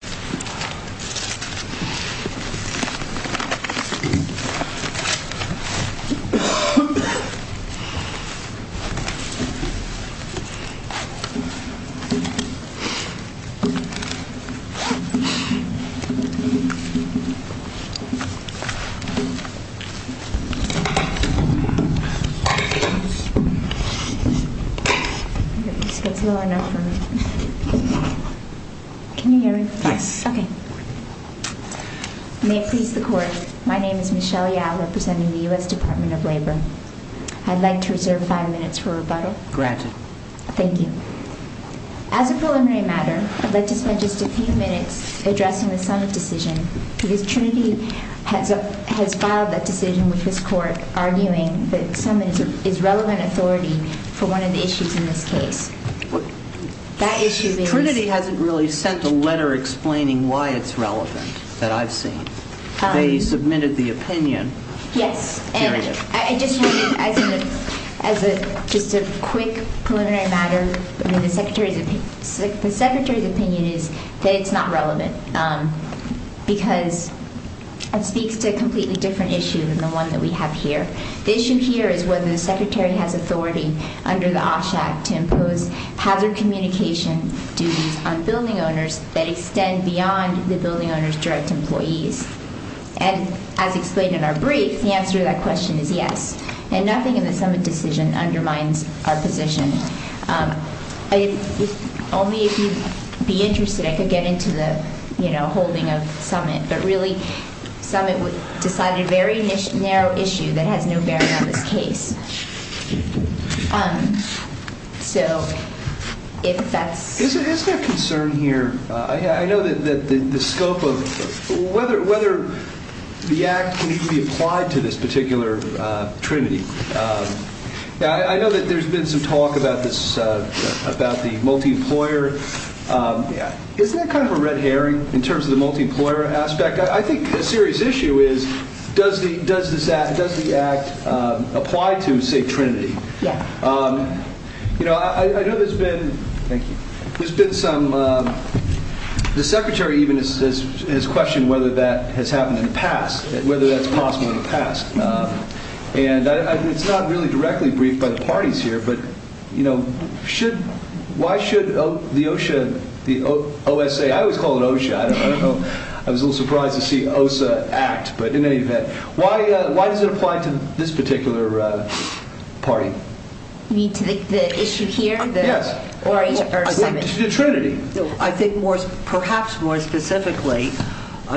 I think this gets low enough for me. Can you hear me? Yes. Okay. May it please the court, my name is Michelle Yao representing the US Department of Labor. I'd like to reserve five minutes for rebuttal. Granted. Thank you. As a preliminary matter, I'd like to spend just a few minutes addressing the summit decision because Trinity has filed that decision with this court arguing that summit is relevant authority for one of the issues in this case. Trinity hasn't really sent a letter explaining why it's relevant that I've seen. They submitted the opinion. Yes. As a just a quick preliminary matter, the Secretary's opinion is that it's not relevant because it speaks to a completely different issue than the one that we have here. The issue here is whether the Secretary has authority under the OSHA Act to impose hazard communication duties on building owners that extend beyond the building owners direct employees. And as explained in our brief, the answer to that question is yes. And nothing in the summit decision undermines our position. Only if you'd be interested I could get into the, you know, holding of summit. But really summit decided a very narrow issue that has no bearing on this case. So if that's... Is there a concern here? I know that the scope of whether the Act can be applied to this particular Trinity. I know that there's been some talk about this about the multi-employer. Isn't that kind of a red herring in terms of the multi-employer aspect? I think a serious issue is does the Act apply to, say, Trinity? Yeah. You know, I know there's been... Thank you. There's been some... The Secretary even has questioned whether that has happened in the past, whether that's possible in the past. And it's not really directly briefed by the parties here. But, you know, should... Why should the OSHA... I always call it OSHA. I don't know. I was a little surprised to see OSHA act. But in any event, why does it apply to this particular party? You mean to the issue here? Yes. Or the summit? The Trinity. I think more, perhaps more specifically,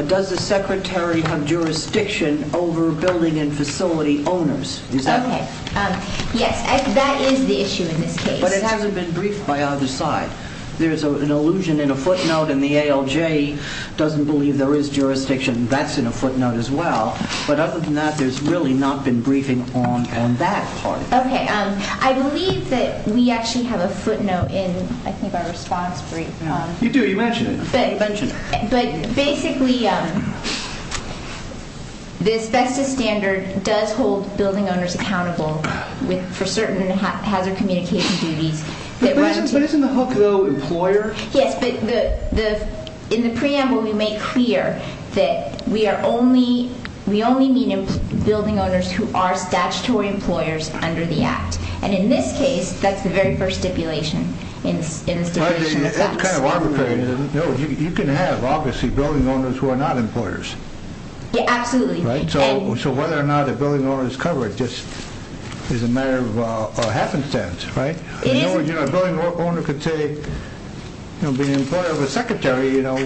does the Secretary have jurisdiction over building and facility owners? Is that... Yes, that is the issue in this case. But it hasn't been briefed by either side. There's an allusion in a footnote and the ALJ doesn't believe there is jurisdiction. That's in a footnote as well. But other than that, there's really not been briefing on that part. Okay. I believe that we actually have a footnote in, I think, our response brief. You do. You mentioned it. But basically, this VESTA standard does hold building owners accountable with... for certain hazard communication duties. But isn't the hook, though, employer? Yes, but in the preamble, we make clear that we are only... we only meet building owners who are statutory employers under the act. And in this case, that's the very first stipulation. It's kind of arbitrary, isn't it? No, you can have, obviously, building owners who are not employers. Yeah, absolutely. Right? So whether or not a building owner is covered just is a matter of happenstance, right? A building owner could be an employer of a secretary, you know,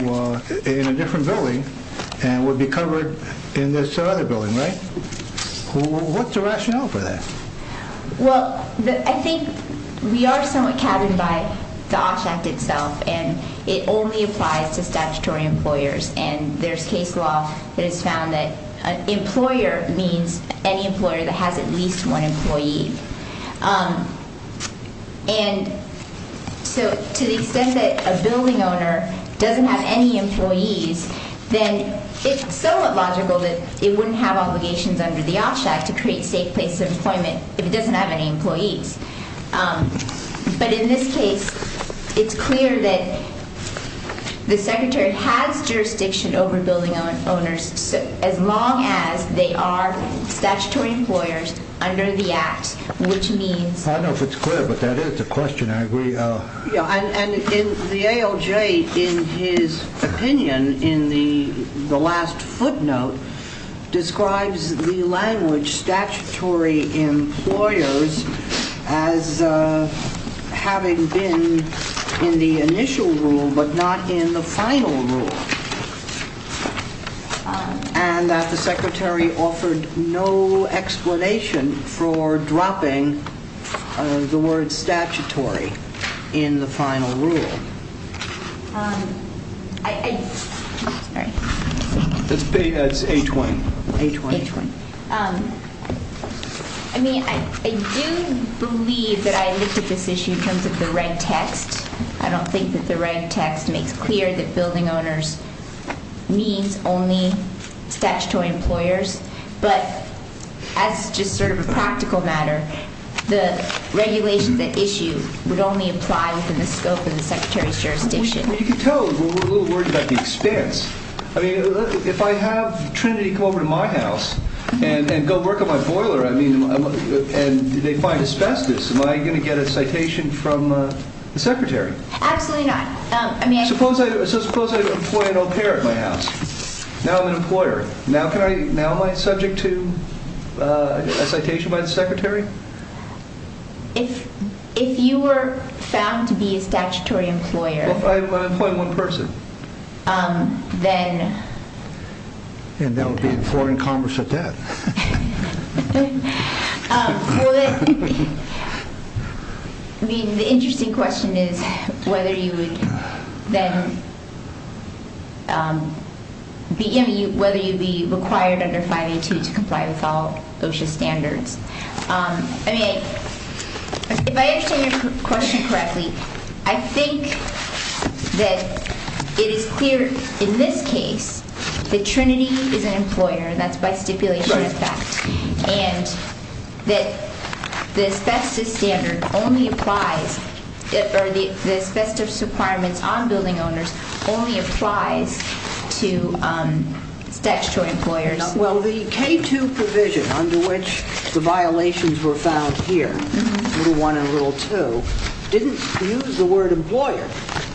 in a different building and would be covered in this other building, right? What's the rationale for that? Well, I think we are somewhat capped by the OSH Act itself and it only applies to statutory employers. And there's case law that has found that an employer means any employer that has at least one employee. And so, to the extent that a building owner doesn't have any employees, then it's somewhat logical that it wouldn't have obligations under the OSH Act to create safe places of employment if it doesn't have any employees. But in this case, it's clear that the secretary has jurisdiction over building owners as long as they are statutory employers under the Act, which means... I don't know if it's clear, but that is a question. I agree. And the ALJ, in his opinion, in the last footnote, describes the language statutory employers as having been in the initial rule but not in the final rule. And that the secretary offered no explanation for dropping the word statutory in the final rule. That's A-20. I mean, I do believe that I looked at this issue in terms of the right text makes clear that building owners means only statutory employers. But as just sort of a practical matter, the regulations at issue would only apply within the scope of the secretary's jurisdiction. Well, you can tell we're a little worried about the expense. I mean, if I have Trinity come over to my house and go work on my boiler, I mean, and they find asbestos, am I going to get a citation from the secretary? Absolutely not. I mean, suppose I employ an au pair at my house. Now I'm an employer. Now can I, now am I subject to a citation by the secretary? If you were found to be a statutory employer... Well, if I'm employing one person. Then... And then we'll be in foreign commerce at that. Well, I mean, the interesting question is whether you would then be, I mean, whether you'd be required under 5A-2 to comply with all OSHA standards. I mean, if I understand your question correctly, I think that it is clear in this case that Trinity is an employee by stipulation, in fact. And that the asbestos standard only applies, or the asbestos requirements on building owners only applies to statutory employers. Well, the K-2 provision under which the violations were found here, Rule 1 and Rule 2, didn't use the word employer.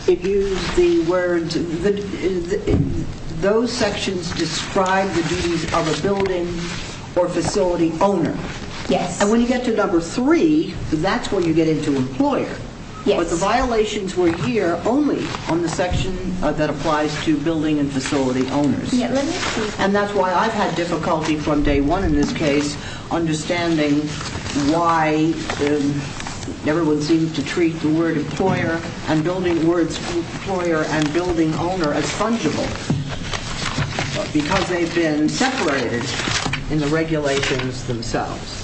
It used the words, those sections describe the duties of a building or facility owner. Yes. And when you get to Number 3, that's when you get into employer. Yes. But the violations were here only on the section that applies to building and facility owners. And that's why I've had difficulty from Day 1 in this case, understanding why everyone seems to treat the word employer and building owner as fungible. Because they've been separated in the regulations themselves.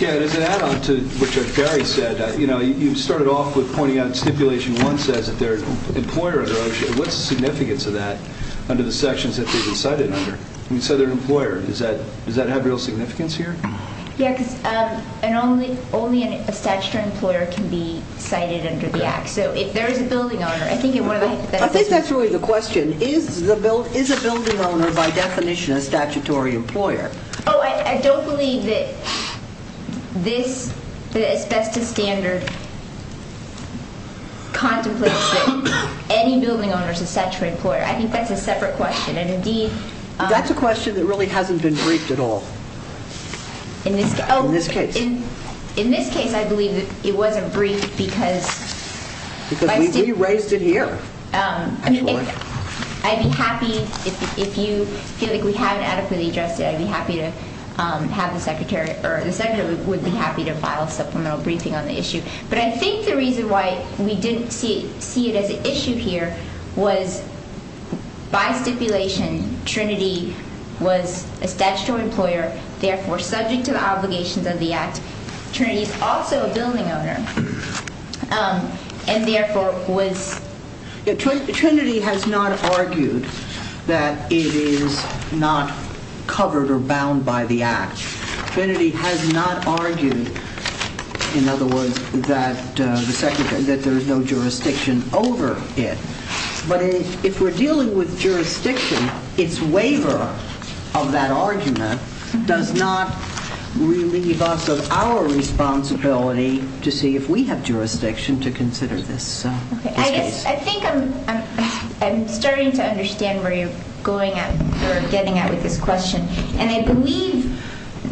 Yeah, and as an add-on to what Judge Barry said, you know, you started off with pointing out in Stipulation 1 says that they're an employer under OSHA. What's the significance of that under the sections that they've been cited under? You said they're an employer. Does that have real significance here? Yeah, because only a statutory employer can be cited under the Act. So if there is a building owner, I think that's really the question. Is a building owner, by definition, a statutory employer? Oh, I don't believe that this, the Asbestos Standard, contemplates that any building owner is a statutory employer. I think that's a separate question. That's a question that really hasn't been briefed at all. In this case. In this case, I believe it wasn't briefed because... Because we raised it here, actually. I'd be happy, if you feel like we haven't adequately addressed it, I'd be happy to have the Secretary, or the Secretary would be happy to file a supplemental briefing on the issue. But I think the reason why we didn't see it as an issue here was, by stipulation, Trinity was a statutory employer, therefore subject to the obligations of the Act. Trinity is also a building owner, and therefore was... that there is no jurisdiction over it. But if we're dealing with jurisdiction, its waiver of that argument does not relieve us of our responsibility to see if we have jurisdiction to consider this case. I think I'm starting to understand where you're going at, or getting at with this question. And I believe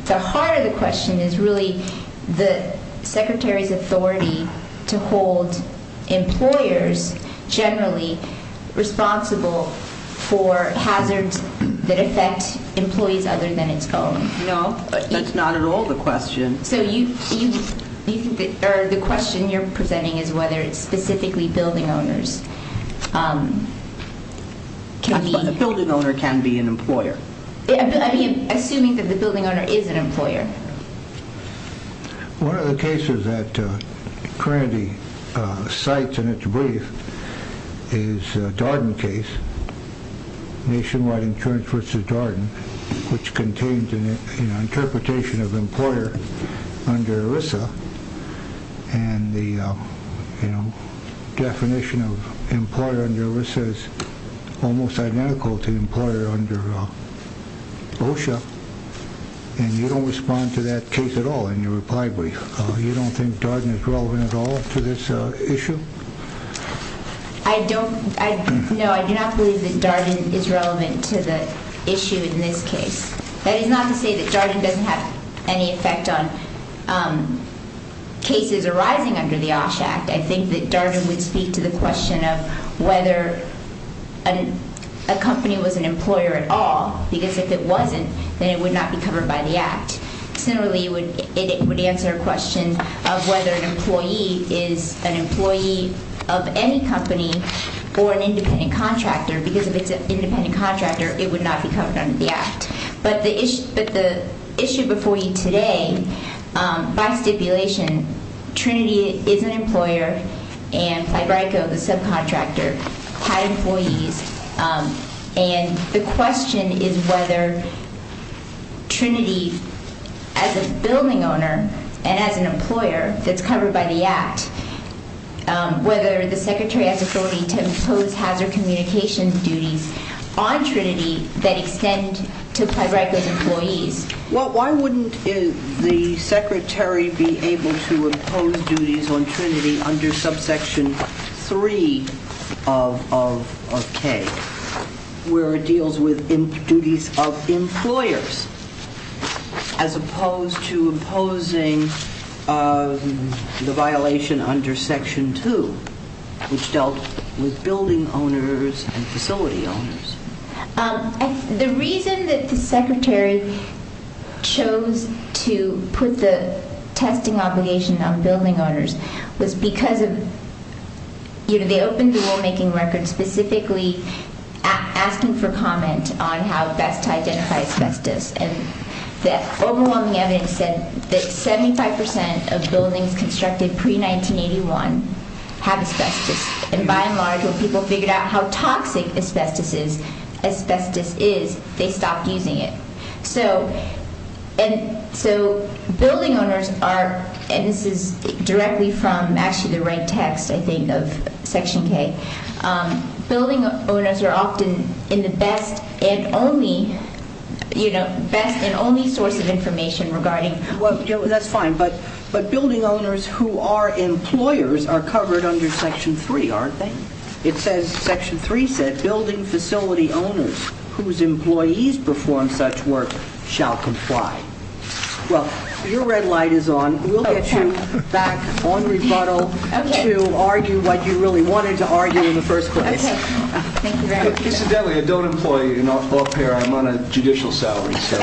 the heart of the question is really the Secretary's authority to hold employers generally responsible for hazards that affect employees other than its own. No, that's not at all the question. The question you're presenting is whether it's specifically building owners. A building owner can be an employer. Assuming that the building owner is an employer. One of the cases that Trinity cites in its brief is the Darden case, Nationwide Insurance v. Darden, which contains an interpretation of employer under ERISA, and the definition of employer under ERISA is almost identical to employer under OSHA. And you don't respond to that case at all in your reply brief. You don't think Darden is relevant at all to this issue? No, I do not believe that Darden is relevant to the issue in this case. That is not to say that Darden doesn't have any effect on cases arising under the OSHA Act. I think that Darden would speak to the question of whether a company was an employer at all, because if it wasn't, then it would not be covered by the Act. Similarly, it would answer a question of whether an employee is an employee of any company or an independent contractor, because if it's an independent contractor, it would not be covered under the Act. But the issue before you today, by stipulation, Trinity is an employer, and Fibrico, the subcontractor, had employees, and the question is whether Trinity, as a building owner and as an employer that's covered by the Act, whether the Secretary has the authority to impose hazard communication duties on Trinity that extend to Fibrico's employees. Well, why wouldn't the Secretary be able to impose duties on Trinity under subsection 3 of K, where it deals with duties of employers, as opposed to imposing the violation under section 2, which dealt with building owners and facility owners? The reason that the Secretary chose to put the testing obligation on building owners was because they opened the rulemaking record specifically asking for comment on how best to identify asbestos. And the overwhelming evidence said that 75% of buildings constructed pre-1981 have asbestos. And by and large, when people figured out how toxic asbestos is, they stopped using it. So, building owners are, and this is directly from actually the right text, I think, of section K, building owners are often in the best and only, you know, best and only source of information regarding... Well, your red light is on. We'll get you back on rebuttal to argue what you really wanted to argue in the first place. Okay. Thank you very much. Coincidentally, I don't employ a law pair. I'm on a judicial salary, so...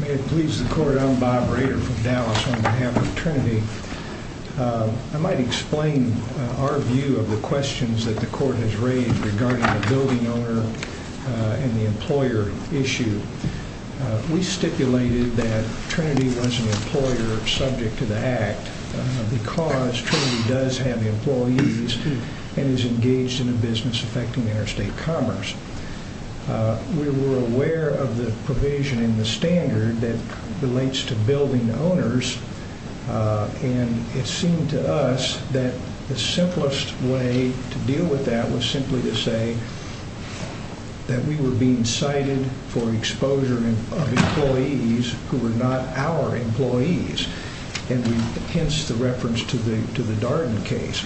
May it please the Court, I'm Bob Rader from Dallas on behalf of Trinity. I might explain our view of the questions that the Court has raised regarding the building owner and the employer issue. We stipulated that Trinity was an employer subject to the Act because Trinity does have employees and is engaged in a business affecting interstate commerce. We were aware of the provision in the standard that relates to building owners, and it seemed to us that the simplest way to deal with that was simply to say that we were being cited for exposure of employees who were not our employees. And hence the reference to the Darden case.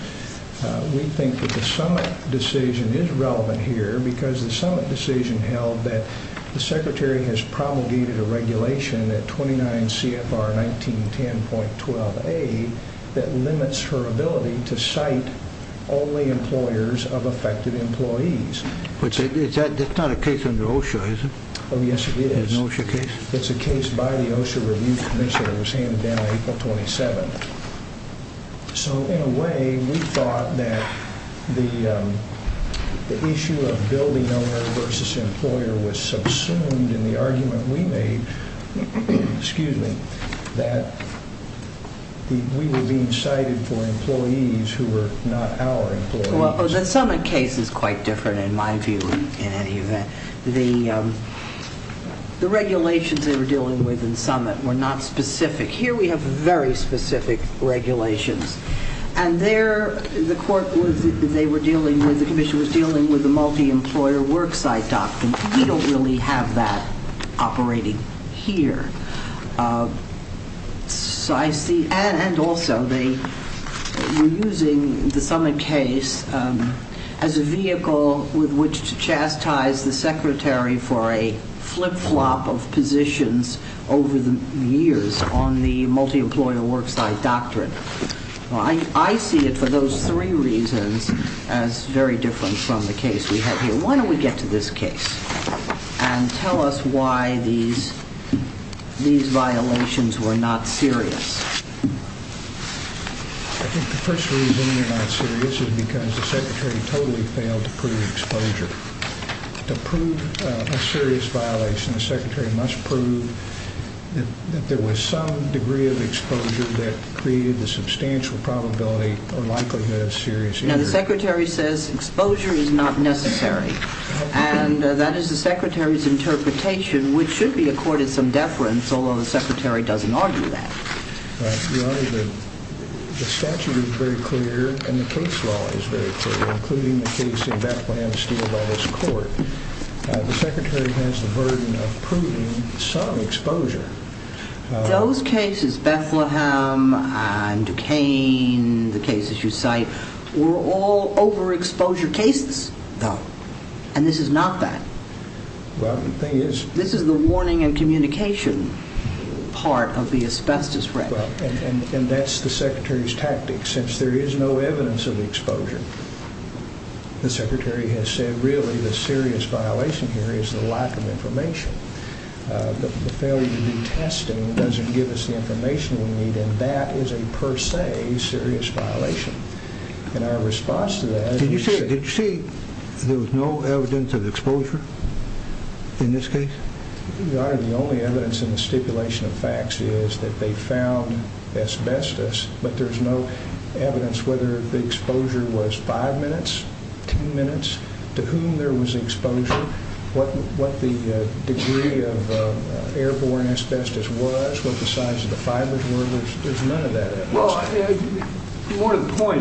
We think that the summit decision is relevant here because the summit decision held that the Secretary has promulgated a regulation at 29 CFR 1910.12a that limits her ability to cite only employers of affected employees. But that's not a case under OSHA, is it? Oh, yes, it is. There's no OSHA case? It's a case by the OSHA review commission that was handed down April 27th. So, in a way, we thought that the issue of building owner versus employer was subsumed in the argument we made that we were being cited for employees who were not our employees. The summit case is quite different, in my view, in any event. The regulations they were dealing with in summit were not specific. Here we have very specific regulations, and the commission was dealing with a multi-employer worksite doctrine. We don't really have that operating here. And also, they were using the summit case as a vehicle with which to chastise the Secretary for a flip-flop of positions over the years on the multi-employer worksite doctrine. I see it for those three reasons as very different from the case we have here. Why don't we get to this case and tell us why these violations were not serious. I think the first reason they're not serious is because the Secretary totally failed to prove exposure. To prove a serious violation, the Secretary must prove that there was some degree of exposure that created the substantial probability or likelihood of serious injury. Now, the Secretary says exposure is not necessary, and that is the Secretary's interpretation, which should be accorded some deference, although the Secretary doesn't argue that. Your Honor, the statute is very clear, and the case law is very clear, including the case in Bethlehem steeled by this court. The Secretary has the burden of proving some exposure. Those cases, Bethlehem and Duquesne, the cases you cite, were all overexposure cases, and this is not that. This is the warning and communication part of the asbestos record. And that's the Secretary's tactic. Since there is no evidence of exposure, the Secretary has said, really, the serious violation here is the lack of information. The failure to do testing doesn't give us the information we need, and that is a per se serious violation. Did you say there was no evidence of exposure in this case? Your Honor, the only evidence in the stipulation of facts is that they found asbestos, but there's no evidence whether the exposure was five minutes, ten minutes, to whom there was exposure, what the degree of airborne asbestos was, what the size of the fibers were. There's none of that evidence. Well, more to the point,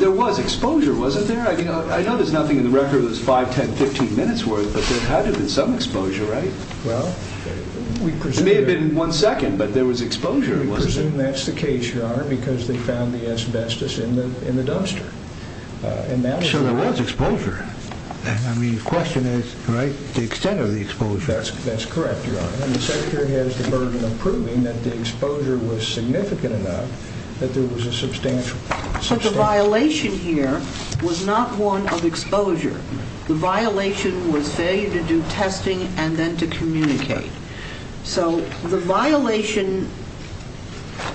there was exposure, wasn't there? I know there's nothing in the record that's five, ten, fifteen minutes worth, but there had to have been some exposure, right? Well, we presume that's the case, Your Honor, because they found the asbestos in the dumpster. So there was exposure. The question is the extent of the exposure. That's correct, Your Honor. The Secretary has the burden of proving that the exposure was significant enough that there was a substantial exposure. But the violation here was not one of exposure. The violation was failure to do testing and then to communicate. So the violation,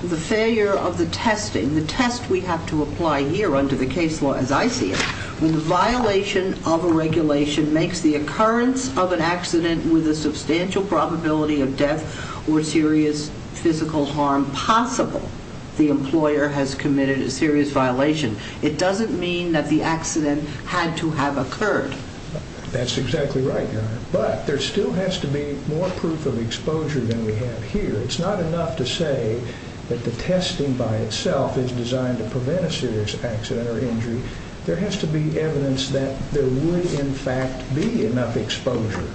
the failure of the testing, the test we have to apply here under the case law as I see it, when the violation of a regulation makes the occurrence of an accident with a substantial probability of death or serious physical harm possible, the employer has committed a serious violation. It doesn't mean that the accident had to have occurred. That's exactly right, Your Honor. But there still has to be more proof of exposure than we have here. It's not enough to say that the testing by itself is designed to prevent a serious accident or injury. There has to be evidence that there would, in fact, be enough exposure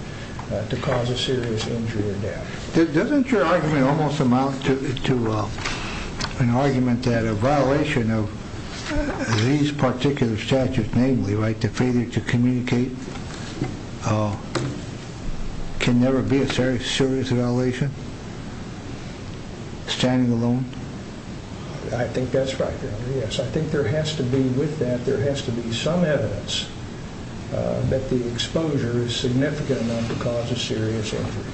to cause a serious injury or death. Doesn't your argument almost amount to an argument that a violation of these particular statutes, namely the failure to communicate, can never be a serious violation? Standing alone? I think that's right, Your Honor. Yes, I think there has to be, with that, there has to be some evidence that the exposure is significant enough to cause a serious injury.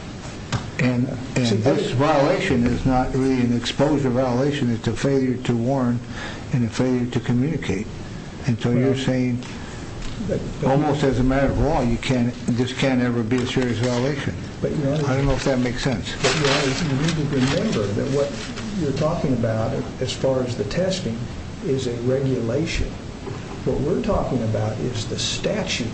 And this violation is not really an exposure violation. It's a failure to warn and a failure to communicate. And so you're saying, almost as a matter of law, this can't ever be a serious violation. I don't know if that makes sense. Your Honor, you need to remember that what you're talking about, as far as the testing, is a regulation. What we're talking about is the statute.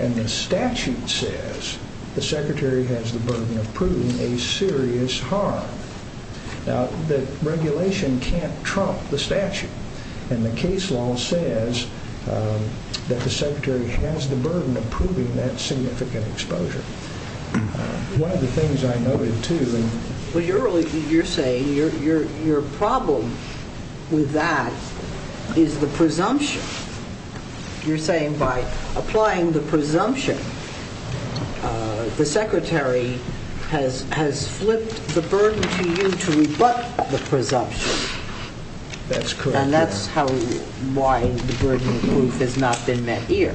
And the statute says the Secretary has the burden of proving a serious harm. Now, the regulation can't trump the statute. And the case law says that the Secretary has the burden of proving that significant exposure. One of the things I noted, too, and... Well, you're saying your problem with that is the presumption. You're saying by applying the presumption, the Secretary has flipped the burden to you to rebut the presumption. That's correct, Your Honor. And that's why the burden of proof has not been met here.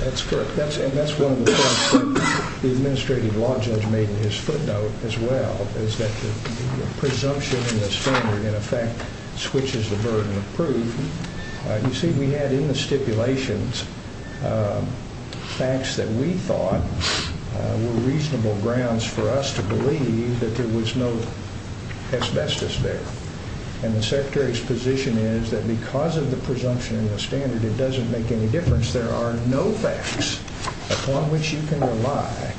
That's correct. And that's one of the points the Administrative Law Judge made in his footnote, as well, is that the presumption in the standard, in effect, switches the burden of proof. You see, we had in the stipulations facts that we thought were reasonable grounds for us to believe that there was no asbestos there. And the Secretary's position is that because of the presumption in the standard, it doesn't make any difference. There are no facts upon which you can rely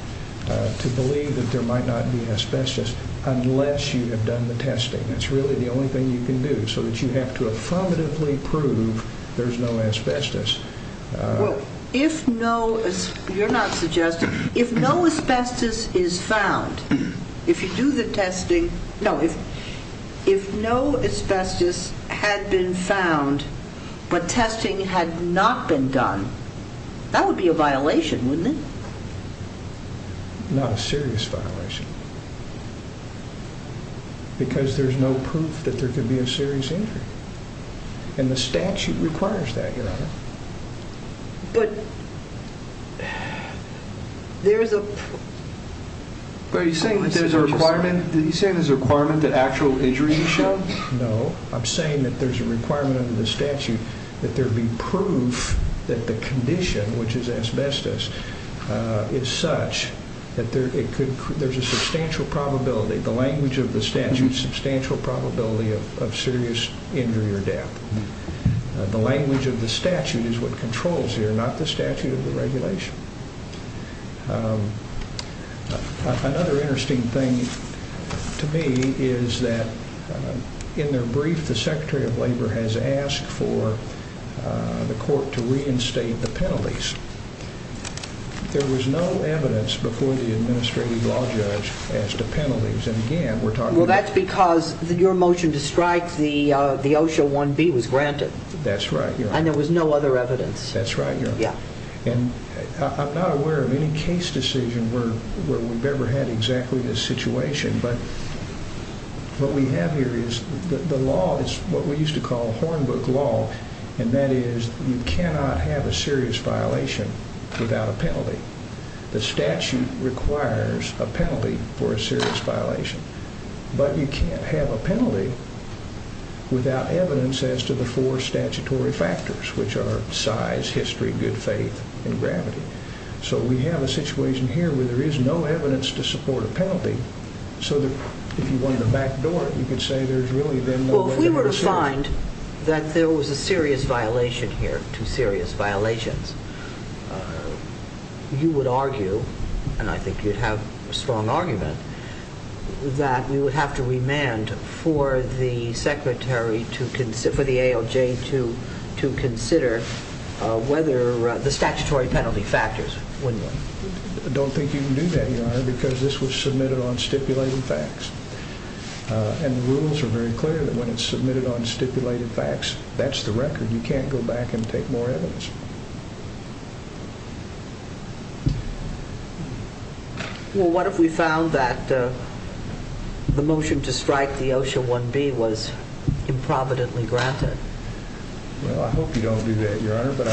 to believe that there might not be asbestos, unless you have done the testing. That's really the only thing you can do, so that you have to affirmatively prove there's no asbestos. Well, if no... You're not suggesting... If no asbestos is found, if you do the testing... No, if no asbestos had been found, but testing had not been done, that would be a violation, wouldn't it? Not a serious violation. Because there's no proof that there could be a serious injury. And the statute requires that, Your Honor. But there's a... But are you saying that there's a requirement? Are you saying there's a requirement that actual injury be shown? No. I'm saying that there's a requirement under the statute that there be proof that the condition, which is asbestos, is such that there's a substantial probability, the language of the statute, substantial probability of serious injury or death. The language of the statute is what controls here, not the statute of the regulation. Another interesting thing to me is that in their brief, the Secretary of Labor has asked for the court to reinstate the penalties. There was no evidence before the administrative law judge as to penalties. And again, we're talking about... Well, that's because your motion to strike the OSHA 1B was granted. That's right, Your Honor. And there was no other evidence. I'm not aware of any case decision where we've ever had exactly this situation, but what we have here is the law is what we used to call hornbook law, and that is you cannot have a serious violation without a penalty. The statute requires a penalty for a serious violation, but you can't have a penalty without evidence as to the four statutory factors, which are size, history, good faith, and gravity. So we have a situation here where there is no evidence to support a penalty, so if you wanted to backdoor it, you could say there's really been no evidence. Well, if we were to find that there was a serious violation here, two serious violations... You would argue, and I think you'd have a strong argument, that we would have to remand for the Secretary, for the ALJ to consider whether the statutory penalty factors, wouldn't we? I don't think you can do that, Your Honor, because this was submitted on stipulated facts. And the rules are very clear that when it's submitted on stipulated facts, that's the record. You can't go back and take more evidence. Well, what if we found that the motion to strike the OSHA 1B was improvidently granted? Well, I hope you don't do that, Your Honor, but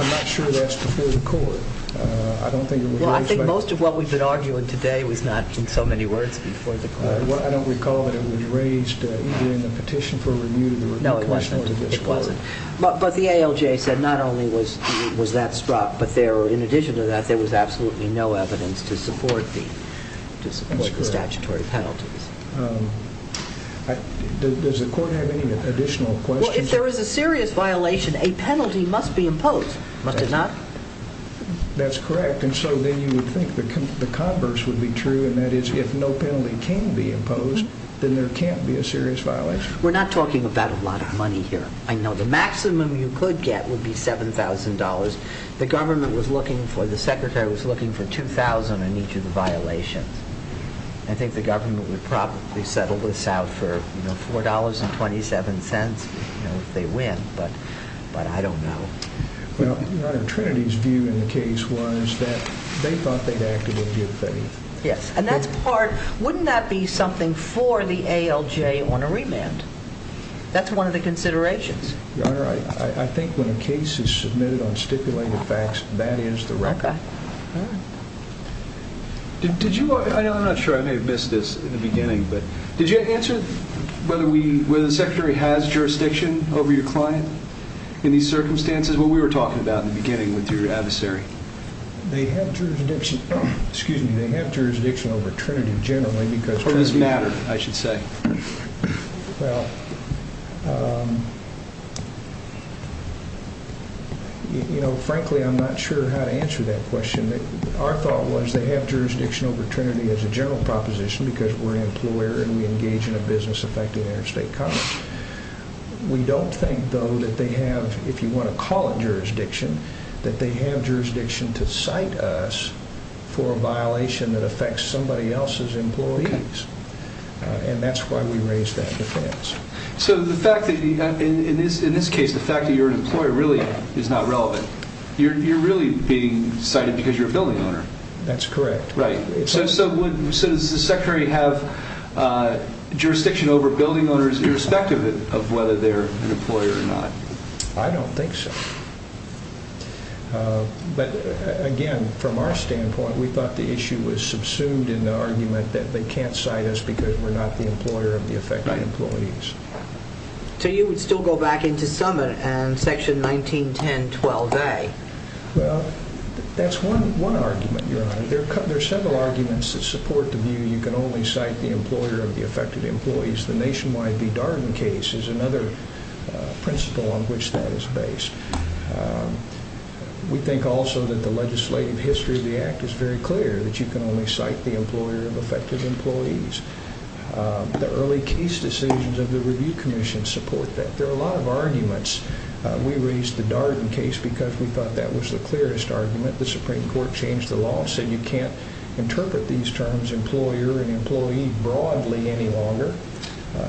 I'm not sure that's before the court. Well, I think most of what we've been arguing today was not in so many words before the court. I don't recall that it was raised either in the petition for review or the review case. But the ALJ said not only was that struck, but in addition to that, there was absolutely no evidence to support the statutory penalties. Does the court have any additional questions? Well, if there is a serious violation, a penalty must be imposed, must it not? That's correct, and so then you would think the converse would be true, and that is if no penalty can be imposed, then there can't be a serious violation. We're not talking about a lot of money here. I know the maximum you could get would be $7,000. The government was looking for, the secretary was looking for $2,000 on each of the violations. I think the government would probably settle this out for $4.27 if they win, but I don't know. Your Honor, Trinity's view in the case was that they thought they'd acted with good faith. Yes, and that's part, wouldn't that be something for the ALJ on a remand? That's one of the considerations. Your Honor, I think when a case is submitted on stipulated facts, that is the record. Okay. I'm not sure, I may have missed this in the beginning, but did you answer whether the secretary has jurisdiction over your client in these circumstances? What we were talking about in the beginning with your adversary. They have jurisdiction, excuse me, they have jurisdiction over Trinity generally because It does matter, I should say. Well, you know, frankly, I'm not sure how to answer that question. Our thought was they have jurisdiction over Trinity as a general proposition because we're an employer and we engage in a business-affected interstate commerce. We don't think, though, that they have, if you want to call it jurisdiction, that they have jurisdiction to cite us for a violation that affects somebody else's employees. And that's why we raised that defense. So the fact that, in this case, the fact that you're an employer really is not relevant. You're really being cited because you're a building owner. That's correct. Right. So does the secretary have jurisdiction over building owners irrespective of whether they're an employer or not? I don't think so. But, again, from our standpoint, we thought the issue was subsumed in the argument that they can't cite us because we're not the employer of the affected employees. So you would still go back into summit and section 1910.12a. Well, that's one argument, Your Honor. There are several arguments that support the view you can only cite the employer of the affected employees. The Nationwide v. Darden case is another principle on which that is based. We think also that the legislative history of the Act is very clear, that you can only cite the employer of affected employees. The early case decisions of the Review Commission support that. There are a lot of arguments. We raised the Darden case because we thought that was the clearest argument. The Supreme Court changed the law and said you can't interpret these terms employer and employee broadly any longer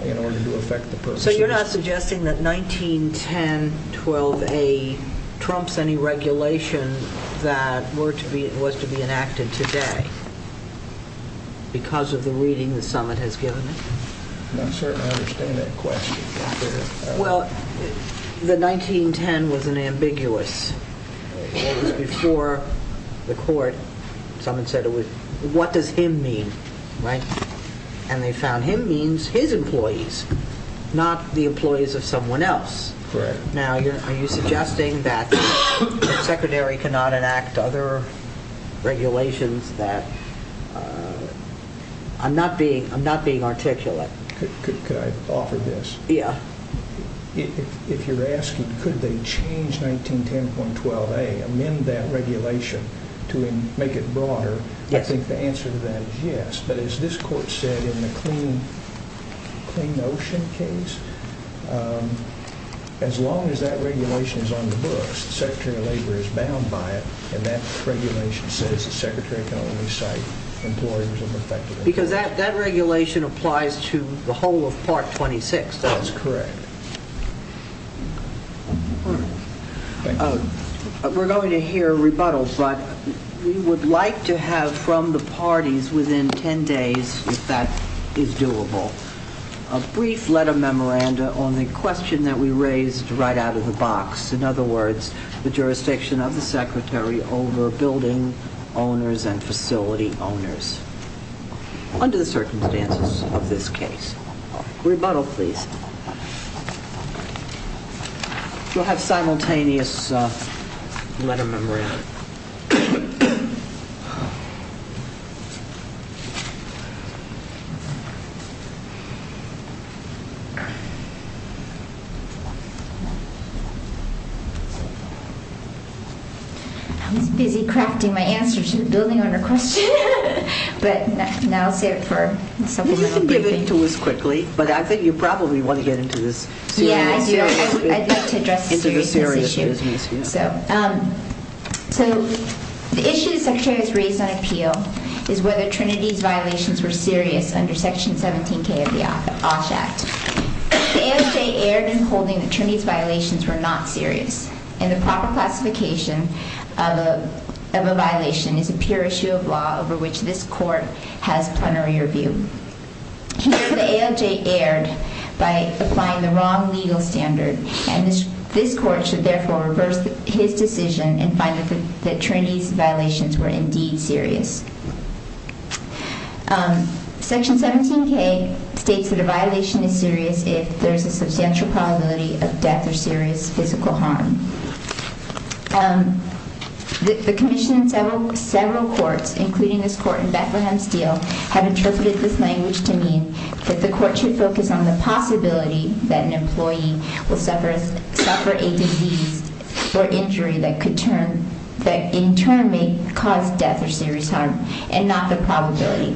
in order to affect the person. So you're not suggesting that 1910.12a trumps any regulation that was to be enacted today because of the reading the summit has given it? I certainly understand that question. Well, the 1910 was an ambiguous. Before the court, someone said, what does him mean? And they found him means his employees, not the employees of someone else. Now, are you suggesting that the Secretary cannot enact other regulations? I'm not being articulate. Could I offer this? If you're asking could they change 1910.12a, amend that regulation to make it broader, I think the answer to that is yes. But as this court said in the Clean Ocean case, as long as that regulation is on the books, the Secretary of Labor is bound by it. And that regulation says the Secretary can only cite employers of affected employees. Because that regulation applies to the whole of Part 26. That's correct. We're going to hear a rebuttal, but we would like to have from the parties within 10 days, if that is doable, a brief letter memoranda on the question that we raised right out of the box. In other words, the jurisdiction of the Secretary over building owners and facility owners. Under the circumstances of this case. Rebuttal, please. You'll have simultaneous letter memoranda. I was busy crafting my answer to the building owner question. But now I'll save it for a supplemental briefing. You can give it to us quickly. But I think you probably want to get into this seriously. Yeah, I'd like to address the seriousness issue. Into the seriousness, yes. So, the issue the Secretary has raised on appeal is whether Trinity's violations were serious under Section 17K of the OSH Act. The ALJ erred in holding that Trinity's violations were not serious. And the proper classification of a violation is a pure issue of law over which this Court has plenary review. The ALJ erred by applying the wrong legal standard. And this Court should therefore reverse his decision and find that Trinity's violations were indeed serious. Section 17K states that a violation is serious if there is a substantial probability of death or serious physical harm. The Commission and several courts, including this court in Bethlehem Steel, have interpreted this language to mean that the Court should focus on the possibility that an employee will suffer a disease or injury that in turn may cause death or serious harm, and not the probability.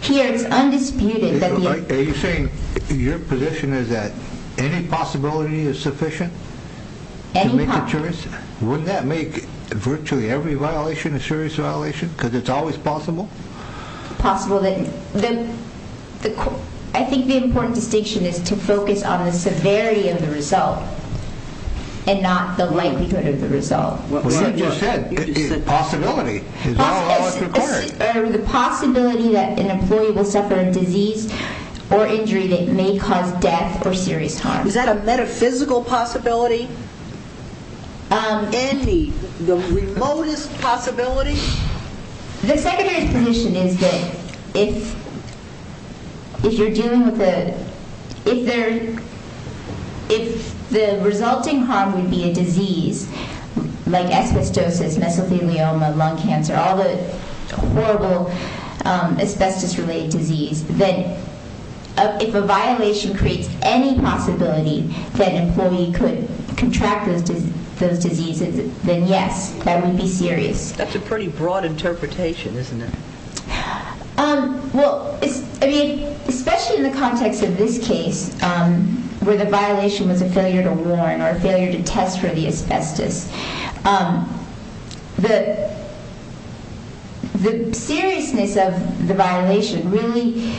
Here, it's undisputed that the... Are you saying your position is that any possibility is sufficient? Any possibility. Wouldn't that make virtually every violation a serious violation? Because it's always possible? Possible that... I think the important distinction is to focus on the severity of the result, and not the likelihood of the result. Well, that's what I just said. Possibility. The possibility that an employee will suffer a disease or injury that may cause death or serious harm. Is that a metaphysical possibility? Andy, the remotest possibility? The Secretary's position is that if... If you're dealing with a... If there... If the resulting harm would be a disease, like asbestosis, mesothelioma, lung cancer, all the horrible asbestos-related disease, then if a violation creates any possibility that an employee could contract those diseases, then yes, that would be serious. That's a pretty broad interpretation, isn't it? Well, I mean, especially in the context of this case, where the violation was a failure to warn or a failure to test for the asbestos, the seriousness of the violation really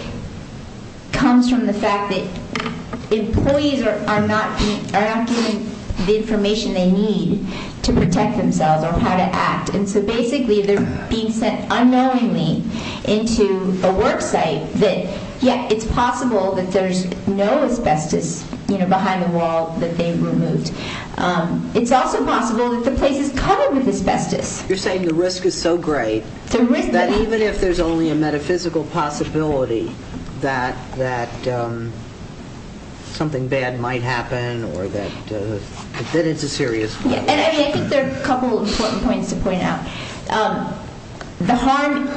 comes from the fact that employees are not given the information they need to protect themselves or how to act. And so basically, they're being sent unknowingly into a worksite that, yeah, it's possible that there's no asbestos behind the wall that they've removed. It's also possible that the place is covered with asbestos. You're saying the risk is so great that even if there's only a metaphysical possibility that something bad might happen or that... That it's a serious violation. And I think there are a couple of important points to point out. The harm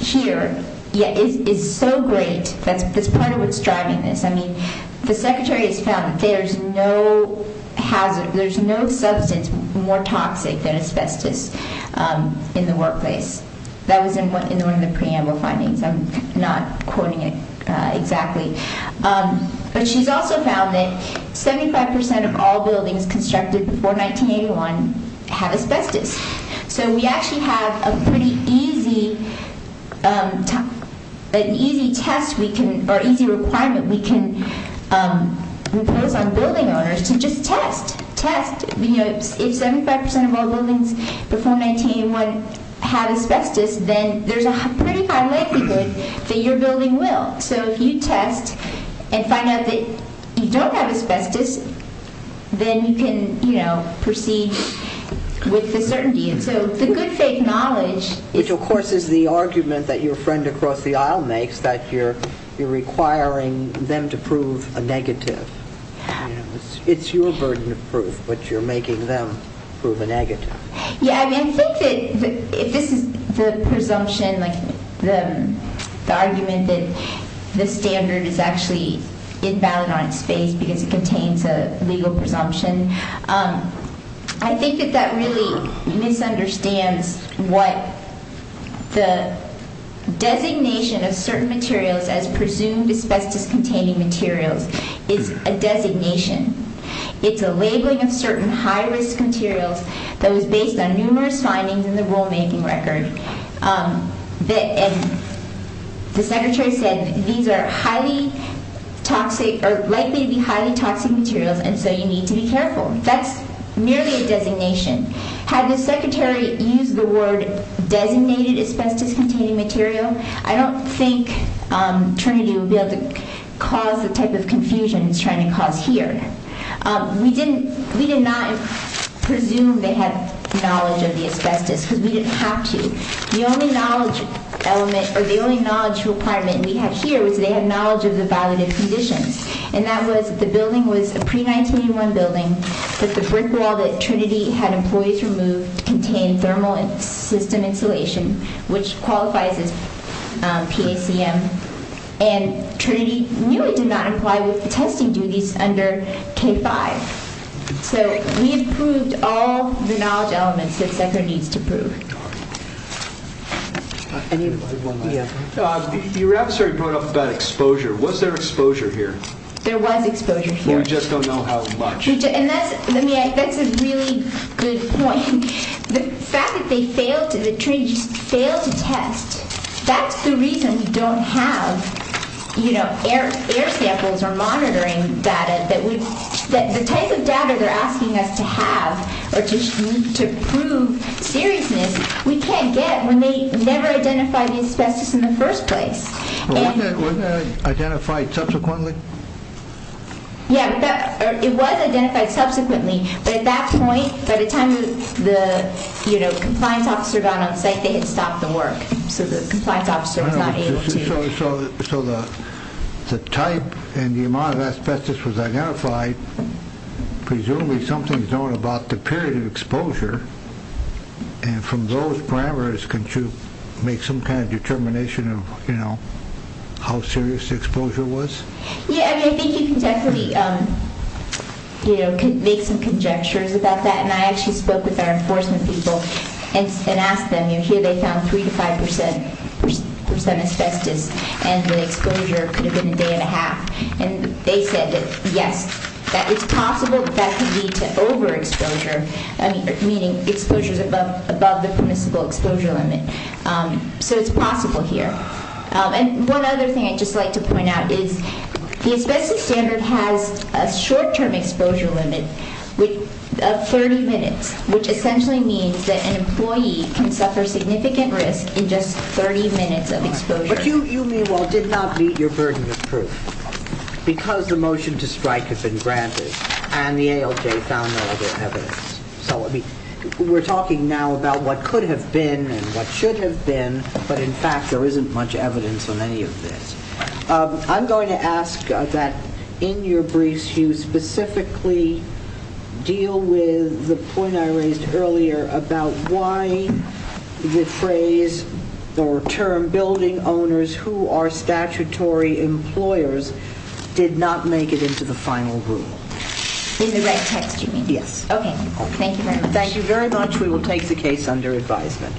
here is so great. That's part of what's driving this. I mean, the secretary has found that there's no substance more toxic than asbestos in the workplace. That was in one of the preamble findings. I'm not quoting it exactly. But she's also found that 75% of all buildings constructed before 1981 have asbestos. So we actually have a pretty easy requirement we can impose on building owners to just test. Test. If 75% of all buildings before 1981 have asbestos, then there's a pretty high likelihood that your building will. So if you test and find out that you don't have asbestos, then you can proceed with the certainty. So the good fake knowledge... Which of course is the argument that your friend across the aisle makes, that you're requiring them to prove a negative. It's your burden of proof, but you're making them prove a negative. Yeah, I mean, I think that if this is the presumption, like the argument that the standard is actually invalid on its face because it contains a legal presumption. I think that that really misunderstands what the designation of certain materials as presumed asbestos containing materials is a designation. It's a labeling of certain high-risk materials that was based on numerous findings in the rulemaking record. The secretary said these are highly toxic or likely to be highly toxic materials, and so you need to be careful. That's merely a designation. Had the secretary used the word designated asbestos-containing material, I don't think Trinity would be able to cause the type of confusion it's trying to cause here. We did not presume they had knowledge of the asbestos, because we didn't have to. The only knowledge requirement we had here was they had knowledge of the valid conditions. And that was the building was a pre-1981 building, but the brick wall that Trinity had employees remove contained thermal system insulation, which qualifies as PACM. And Trinity knew it did not apply with the testing duties under K-5. So we had proved all the knowledge elements that Secretary needs to prove. Your adversary brought up about exposure. Was there exposure here? There was exposure here. We just don't know how much. That's a really good point. The fact that the Trinity failed to test, that's the reason we don't have air samples or monitoring data. The type of data they're asking us to have or to prove seriousness, we can't get when they never identified the asbestos in the first place. Wasn't that identified subsequently? Yeah, it was identified subsequently. But at that point, by the time the compliance officer got on site, they had stopped the work. So the compliance officer was not able to. So the type and the amount of asbestos was identified. Presumably something is known about the period of exposure. And from those parameters, can you make some kind of determination of how serious the exposure was? Yeah, I think you can definitely make some conjectures about that. And I actually spoke with our enforcement people and asked them. Here they found 3-5% asbestos and the exposure could have been a day and a half. And they said that yes, it's possible that that could lead to overexposure, meaning exposures above the permissible exposure limit. So it's possible here. And one other thing I'd just like to point out is the asbestos standard has a short-term exposure limit of 30 minutes, which essentially means that an employee can suffer significant risk in just 30 minutes of exposure. But you, meanwhile, did not meet your burden of proof because the motion to strike had been granted and the ALJ found no other evidence. So we're talking now about what could have been and what should have been, but in fact there isn't much evidence on any of this. I'm going to ask that in your briefs you specifically deal with the point I raised earlier about why the phrase or term building owners who are statutory employers did not make it into the final rule. In the right text you mean? Yes. Okay. Thank you very much. Thank you very much. We will take the case under advisement.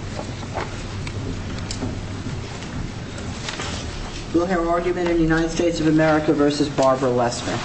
We'll hear argument in the United States of America versus Barbara Lessman.